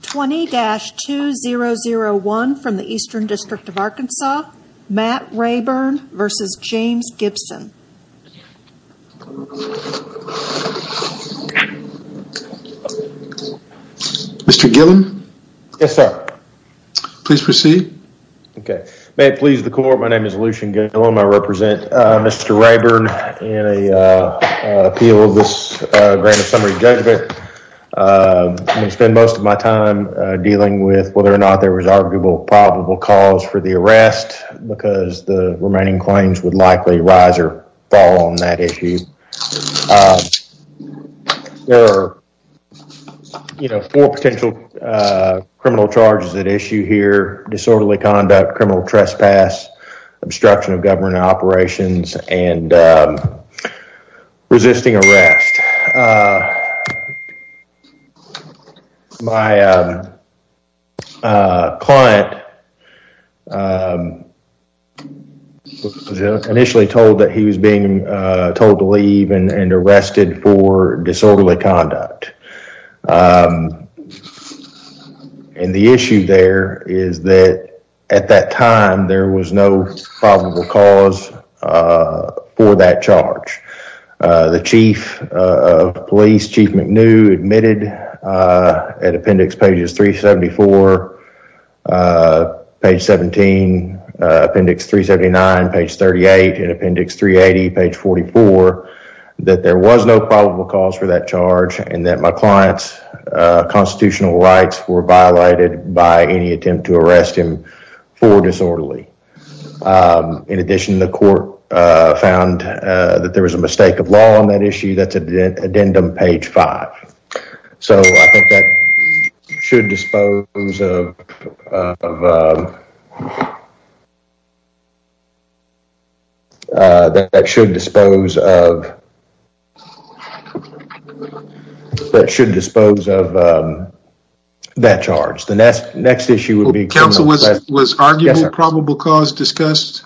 20-2001 from the Eastern District of Arkansas Matt Raeburn versus James Gibson Mr. Gillum, yes, sir Please proceed. Okay, may it please the court. My name is Lucian Gillum. I represent. Mr. Raeburn in a appeal of this summary judgment I'm going to spend most of my time dealing with whether or not there was arguable probable cause for the arrest Because the remaining claims would likely rise or fall on that issue There are You know four potential criminal charges at issue here disorderly conduct criminal trespass obstruction of government operations and Resisting arrest My Client Initially told that he was being told to leave and arrested for disorderly conduct And the issue there is that at that time there was no probable cause for that charge the chief of Chief McNew admitted at appendix pages 374 Page 17 Appendix 379 page 38 and appendix 380 page 44 That there was no probable cause for that charge and that my clients Constitutional rights were violated by any attempt to arrest him for disorderly In addition the court found that there was a mistake of law on that issue That's a dead addendum page 5 so I think that should dispose of That should dispose of That should dispose of That charge the next next issue would be counsel was was arguably probable cause discussed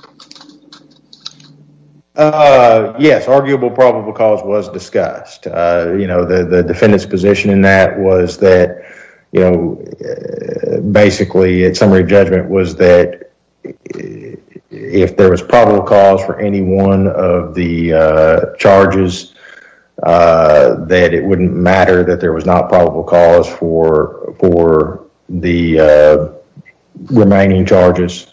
Uh Yes, arguable probable cause was discussed, you know, the the defendants position in that was that you know basically at summary judgment was that If there was probable cause for any one of the charges That it wouldn't matter that there was not probable cause for for the Remaining charges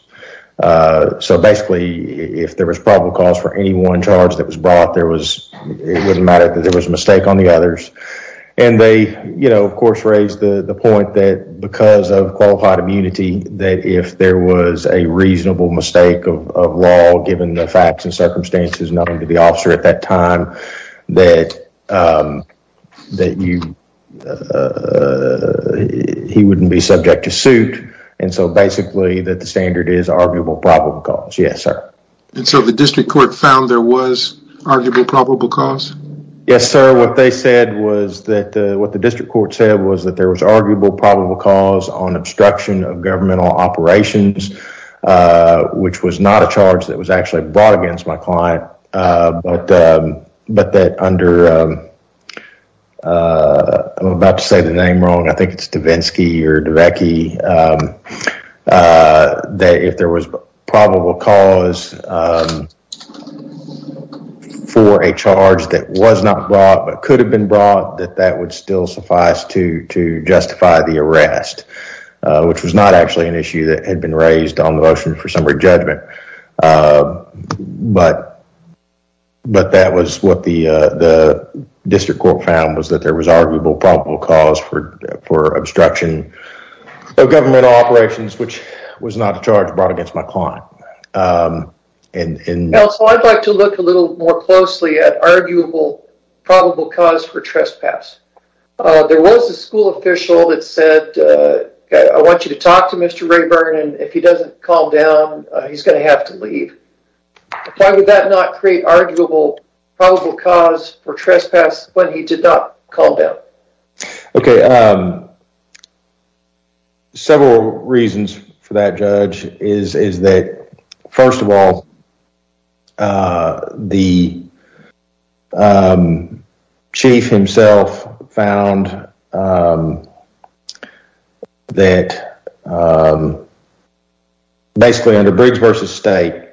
So basically if there was probable cause for any one charge that was brought there was It wouldn't matter that there was a mistake on the others and they you know of course raised the the point that because of qualified immunity that if there was a Reasonable mistake of law given the facts and circumstances nothing to be officer at that time that That you He wouldn't be subject to suit and so basically that the standard is arguable probable cause yes, sir And so the district court found there was arguable probable cause yes, sir What they said was that what the district court said was that there was arguable probable cause on obstruction of governmental operations Which was not a charge that was actually brought against my client But that under I'm about to say the name wrong. I think it's Davinsky or Davecky That if there was probable cause For a charge that was not brought but could have been brought that that would still suffice to to justify the arrest Which was not actually an issue that had been raised on the motion for summary judgment But But that was what the the District Court found was that there was arguable probable cause for for obstruction Of governmental operations, which was not a charge brought against my client And in else I'd like to look a little more closely at arguable probable cause for trespass There was a school official that said I want you to talk to mr. Rayburn, and if he doesn't calm down He's going to have to leave Why would that not create arguable probable cause for trespass when he did not call them, okay Several reasons for that judge is is that first of all The Chief himself found That Basically under Briggs v. State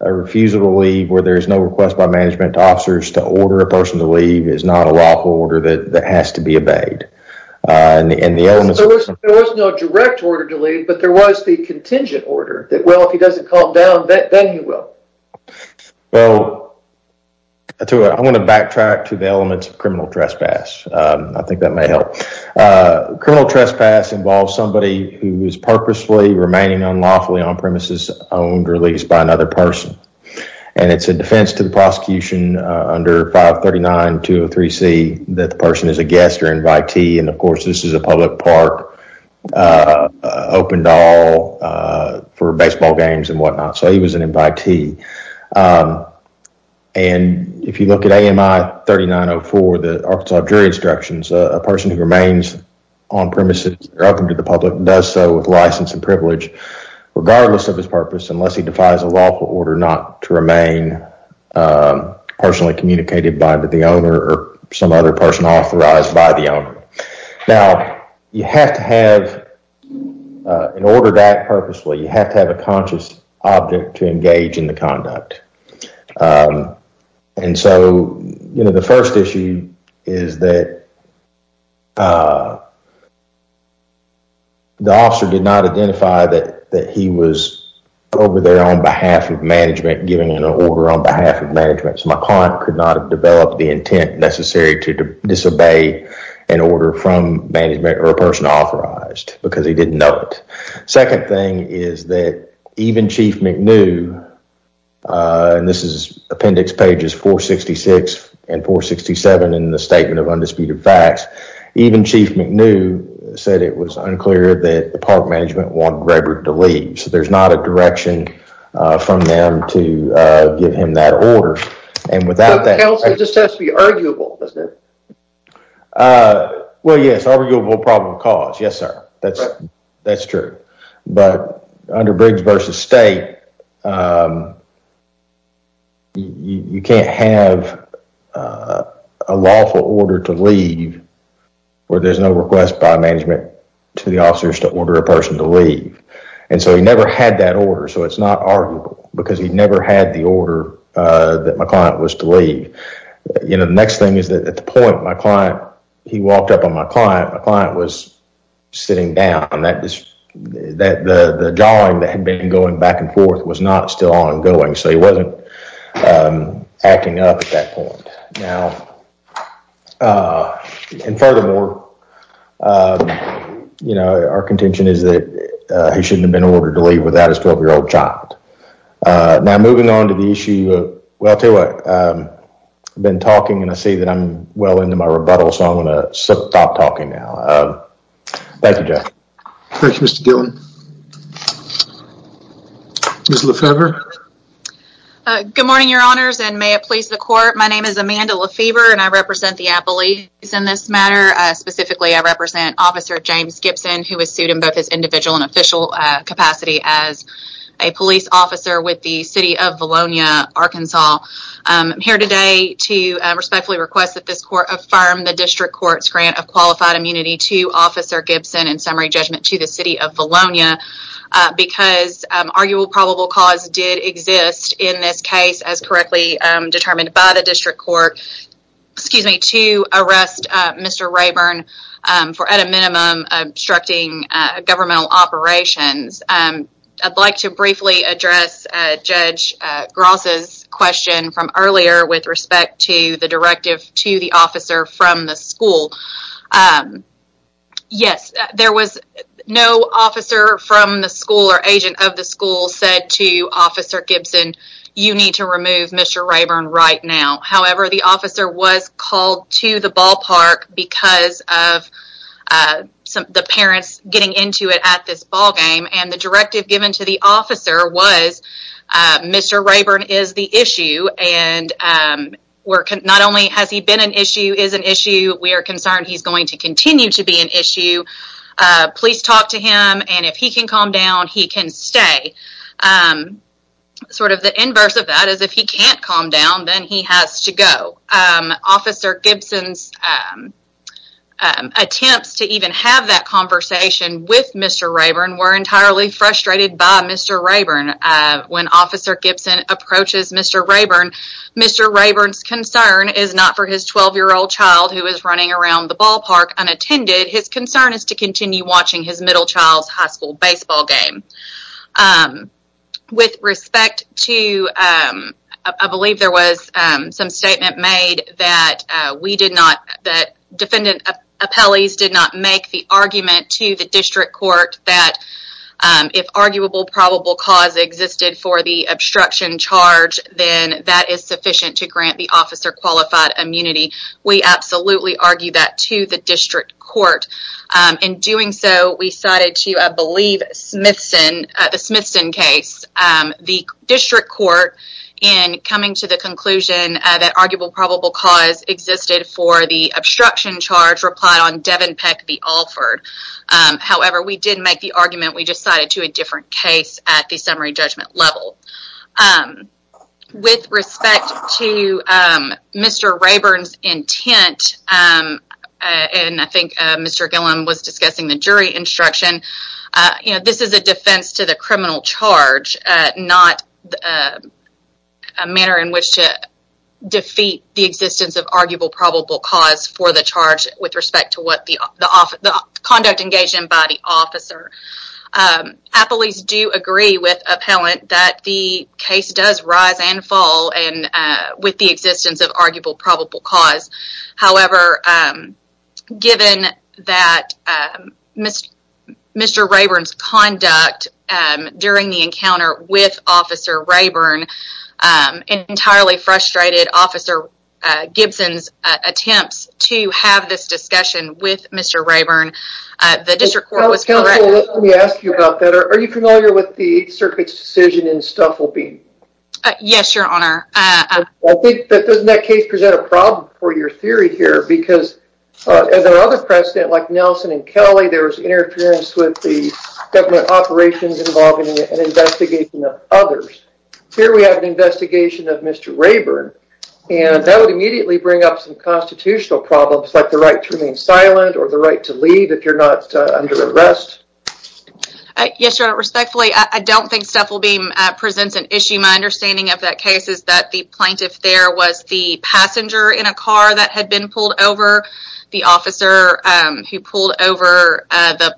a Refusal to leave where there is no request by management officers to order a person to leave is not a lawful order that has to be obeyed There was no direct order to leave but there was the contingent order that well if he doesn't calm down then he will well I want to backtrack to the elements of criminal trespass. I think that may help Criminal trespass involves somebody who is purposely remaining unlawfully on-premises owned or leased by another person and It's a defense to the prosecution Under 539 203 C that the person is a guest or invitee. And of course, this is a public park Opened all for baseball games and whatnot. So he was an invitee and If you look at AMI 3904 the Arkansas jury instructions a person who remains on-premises Welcome to the public and does so with license and privilege Regardless of his purpose unless he defies a lawful order not to remain Personally communicated by the owner or some other person authorized by the owner now you have to have In order that purposefully you have to have a conscious object to engage in the conduct And so, you know, the first issue is that The officer did not identify that that he was Over there on behalf of management giving an order on behalf of management So my client could not have developed the intent necessary to disobey an order from management or a person authorized Because he didn't know it. Second thing is that even chief McNew And this is appendix pages 466 and 467 in the statement of undisputed facts Even chief McNew said it was unclear that the park management wanted Rebert to leave. So there's not a direction From them to give him that order and without that Well, yes arguable problem cause yes, sir, that's that's true but under bridge versus state you Can't have a lawful order to leave Where there's no request by management to the officers to order a person to leave and so he never had that order So it's not arguable because he'd never had the order that my client was to leave You know, the next thing is that at the point my client he walked up on my client. My client was Going back and forth was not still ongoing. So he wasn't Acting up at that point now And furthermore You know, our contention is that he shouldn't have been ordered to leave without his 12 year old child Now moving on to the issue. Well, I tell you what I've been talking and I see that I'm well into my rebuttal. So I'm gonna stop talking now Thank you, Jeff. Thank you, Mr. Gillen Miss Lefebvre Good morning, your honors and may it please the court My name is Amanda Lefebvre and I represent the Appalachians in this matter specifically, I represent officer James Gibson who was sued in both his individual and official capacity as a police officer with the city of Valonia, Arkansas Here today to respectfully request that this court affirm the district courts grant of qualified immunity to officer Gibson and summary judgment to the city of Valonia Because arguable probable cause did exist in this case as correctly determined by the district court Excuse me to arrest. Mr. Rayburn for at a minimum obstructing governmental operations I'd like to briefly address Judge Gross's question from earlier with respect to the directive to the officer from the school Yes, there was no officer from the school or agent of the school said to officer Gibson You need to remove. Mr. Rayburn right now. However, the officer was called to the ballpark because of Some the parents getting into it at this ballgame and the directive given to the officer was Mr. Rayburn is the issue and We're not only has he been an issue is an issue we are concerned he's going to continue to be an issue Please talk to him and if he can calm down he can stay Sort of the inverse of that is if he can't calm down then he has to go officer Gibson's Attempts to even have that conversation with mr. Rayburn were entirely frustrated by mr. Rayburn When officer Gibson approaches, mr. Rayburn, mr Rayburn's concern is not for his 12 year old child who is running around the ballpark Unattended his concern is to continue watching his middle child's high school baseball game With respect to I believe there was some statement made that we did not that defendant appellees did not make the argument to the district court that If arguable probable cause existed for the obstruction charge Then that is sufficient to grant the officer qualified immunity. We absolutely argue that to the district court In doing so we cited to a believe Smithson the Smithson case the district court in Coming to the conclusion that arguable probable cause existed for the obstruction charge replied on Devon Peck the Alford However, we did make the argument we decided to a different case at the summary judgment level With respect to Mr. Rayburn's intent And I think mr. Gillum was discussing the jury instruction, you know, this is a defense to the criminal charge not a manner in which to The existence of arguable probable cause for the charge with respect to what the conduct engaged in by the officer Appellees do agree with appellant that the case does rise and fall and with the existence of arguable probable cause however Given that Miss mr. Rayburn's conduct during the encounter with officer Rayburn Entirely frustrated officer Gibson's attempts to have this discussion with mr. Rayburn the district Are you familiar with the circuit's decision in stuff will be Yes, your honor doesn't that case present a problem for your theory here because There are other precedent like Nelson and Kelly there was interference with the government operations involving an investigation of others Here we have an investigation of mr. Rayburn and that would immediately bring up some constitutional problems Like the right to remain silent or the right to leave if you're not under arrest Yes, your honor respectfully, I don't think stuff will beam presents an issue My understanding of that case is that the plaintiff there was the passenger in a car that had been pulled over the officer who pulled over the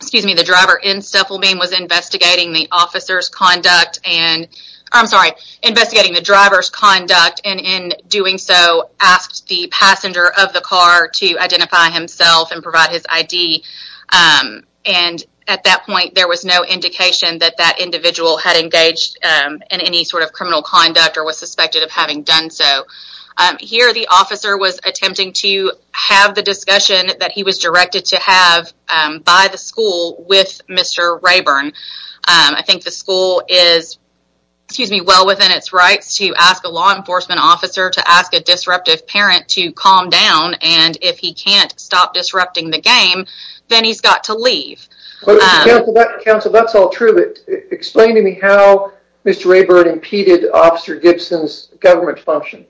Excuse me, the driver in stuff will beam was investigating the officer's conduct and I'm sorry Investigating the driver's conduct and in doing so asked the passenger of the car to identify himself and provide his ID And at that point there was no indication that that individual had engaged In any sort of criminal conduct or was suspected of having done so Here the officer was attempting to have the discussion that he was directed to have By the school with mr. Rayburn. I think the school is Excuse me well within its rights to ask a law enforcement officer to ask a disruptive parent to calm down and if he can't stop disrupting the Game, then he's got to leave Counsel, that's all true. It explained to me how mr. Rayburn impeded officer Gibson's government function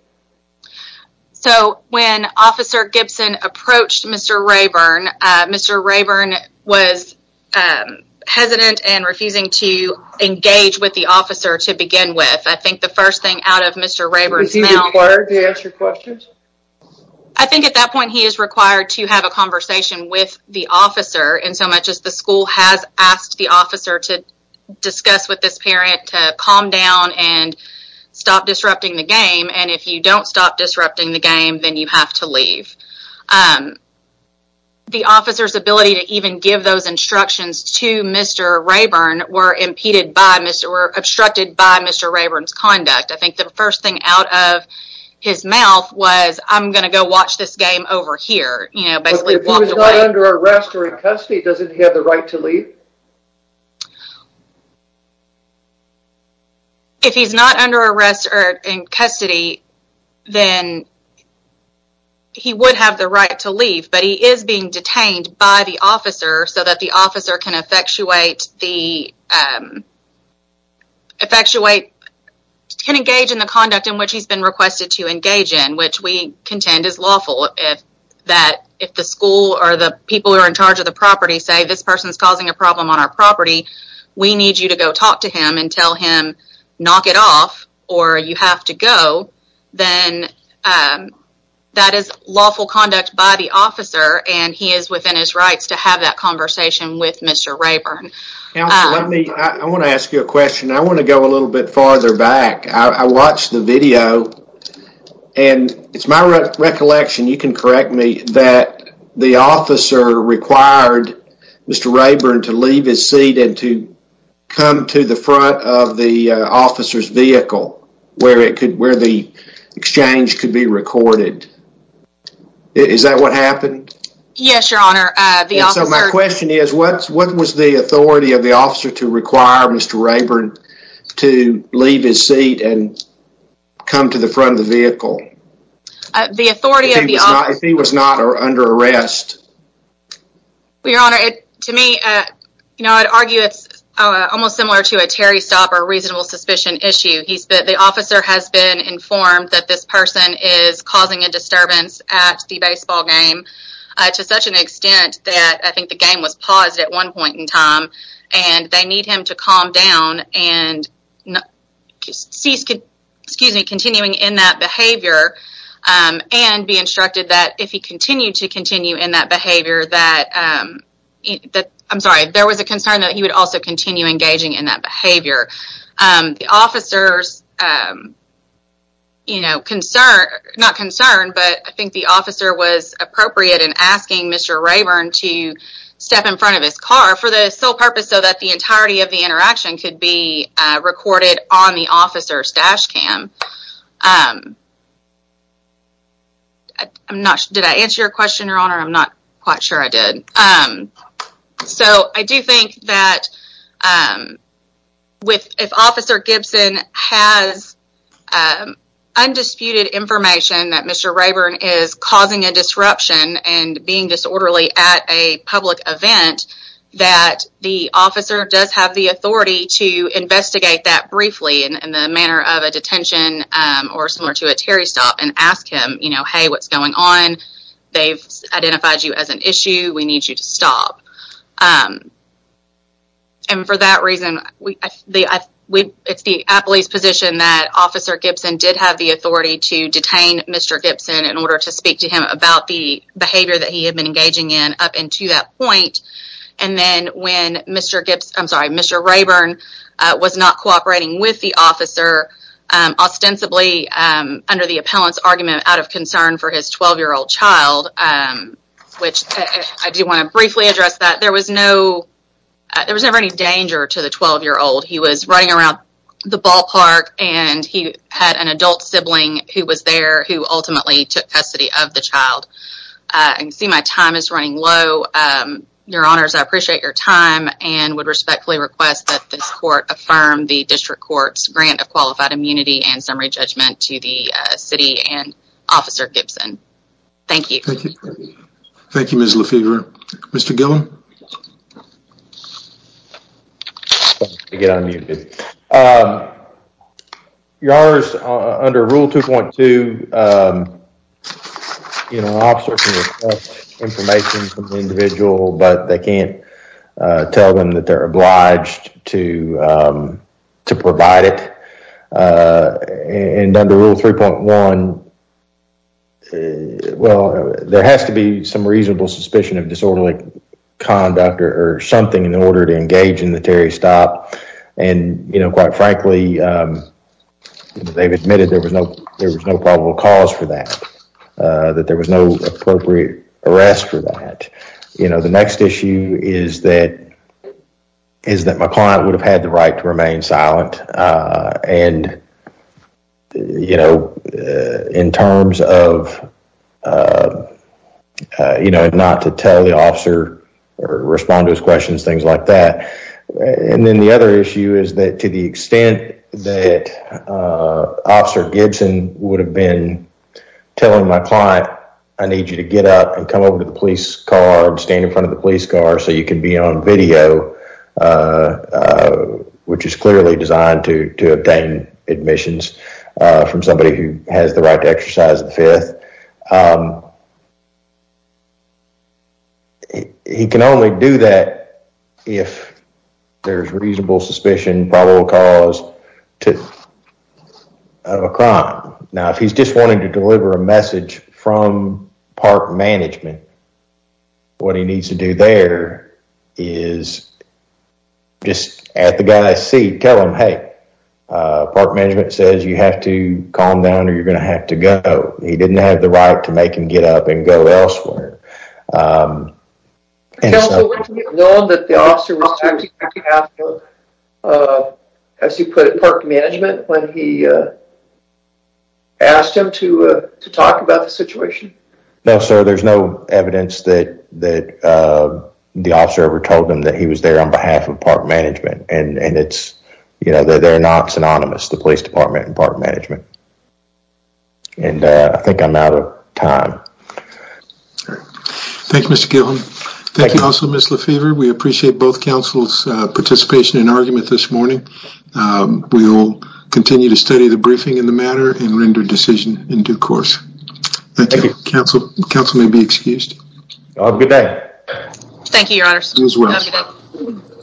So when officer Gibson approached, mr. Rayburn Mr. Rayburn was Hesitant and refusing to engage with the officer to begin with. I think the first thing out of mr. Rayburn's now Why are the answer questions? I? think at that point he is required to have a conversation with the officer and so much as the school has asked the officer to discuss with this parent to calm down and Stop disrupting the game. And if you don't stop disrupting the game, then you have to leave The Officer's ability to even give those instructions to mr. Rayburn were impeded by mr. Were obstructed by mr. Rayburn's conduct. I think the first thing out of His mouth was I'm gonna go watch this game over here, you know, but it was not under arrest or in custody Does it have the right to leave? If he's not under arrest or in custody then He would have the right to leave but he is being detained by the officer so that the officer can effectuate the Effectuate can engage in the conduct in which he's been requested to engage in which we contend is lawful if That if the school or the people who are in charge of the property say this person is causing a problem on our property We need you to go talk to him and tell him knock it off or you have to go then That is lawful conduct by the officer and he is within his rights to have that conversation with mr. Rayburn Let me I want to ask you a question. I want to go a little bit farther back. I watched the video and It's my recollection. You can correct me that the officer required Mr. Rayburn to leave his seat and to come to the front of the officers vehicle where it could where the Exchange could be recorded Is that what happened? Yes, your honor. So my question is what's what was the authority of the officer to require? Mr. Rayburn to leave his seat and Come to the front of the vehicle The authority of the eye if he was not or under arrest We honor it to me, you know, I'd argue it's almost similar to a Terry stopper reasonable suspicion issue He said the officer has been informed that this person is causing a disturbance at the baseball game to such an extent that I think the game was paused at one point in time and they need him to calm down and Cease could excuse me continuing in that behavior and be instructed that if he continued to continue in that behavior that That I'm sorry. There was a concern that he would also continue engaging in that behavior The officers You know concern not concerned, but I think the officer was appropriate in asking mr Rayburn to step in front of his car for the sole purpose so that the entirety of the interaction could be Recorded on the officers dashcam I'm not did I answer your question your honor. I'm not quite sure I did. Um, so I do think that With if officer Gibson has Undisputed information that mr Rayburn is causing a disruption and being disorderly at a public event That the officer does have the authority to Investigate that briefly in the manner of a detention or similar to a Terry stop and ask him, you know, hey, what's going on? They've identified you as an issue. We need you to stop And for that reason we We it's the a police position that officer Gibson did have the authority to detain. Mr Gibson in order to speak to him about the behavior that he had been engaging in up into that point and Then when mr. Gibbs, I'm sorry, mr. Rayburn was not cooperating with the officer ostensibly Under the appellant's argument out of concern for his 12 year old child Which I do want to briefly address that there was no There was never any danger to the 12 year old He was running around the ballpark and he had an adult sibling who was there who ultimately took custody of the child And see my time is running low Your honors. I appreciate your time and would respectfully request that this court affirm the district courts grant of qualified immunity and summary judgment to the city and Officer Gibson, thank you. Thank you. Thank you. Ms. Lafever. Mr. Gillen Yars under rule 2.2 You know Information from the individual but they can't tell them that they're obliged to To provide it And under rule 3.1 Well, there has to be some reasonable suspicion of disorderly Conduct or something in order to engage in the Terry stop and you know, quite frankly They've admitted there was no there was no probable cause for that That there was no appropriate arrest for that. You know, the next issue is that Is that my client would have had the right to remain silent? and You know in terms of You know not to tell the officer Respond to his questions things like that and then the other issue is that to the extent that Officer Gibson would have been Telling my client I need you to get up and come over to the police car and stand in front of the police car So you can be on video Which is clearly designed to to obtain admissions from somebody who has the right to exercise the fifth He can only do that if there's reasonable suspicion probable cause to A crime now if he's just wanting to deliver a message from park management What he needs to do there is Just at the guy I see tell him hey Park management says you have to calm down or you're gonna have to go He didn't have the right to make him get up and go elsewhere As you put it park management when he Asked him to to talk about the situation. No, sir. There's no evidence that that The officer ever told them that he was there on behalf of park management and and it's you know They're they're not synonymous the police department and park management And I think I'm out of time Thank You, mr. Gilman, thank you also miss Lefevre we appreciate both council's participation in argument this morning We will continue to study the briefing in the matter and render decision in due course Thank you. Counsel counsel may be excused Good day. Thank you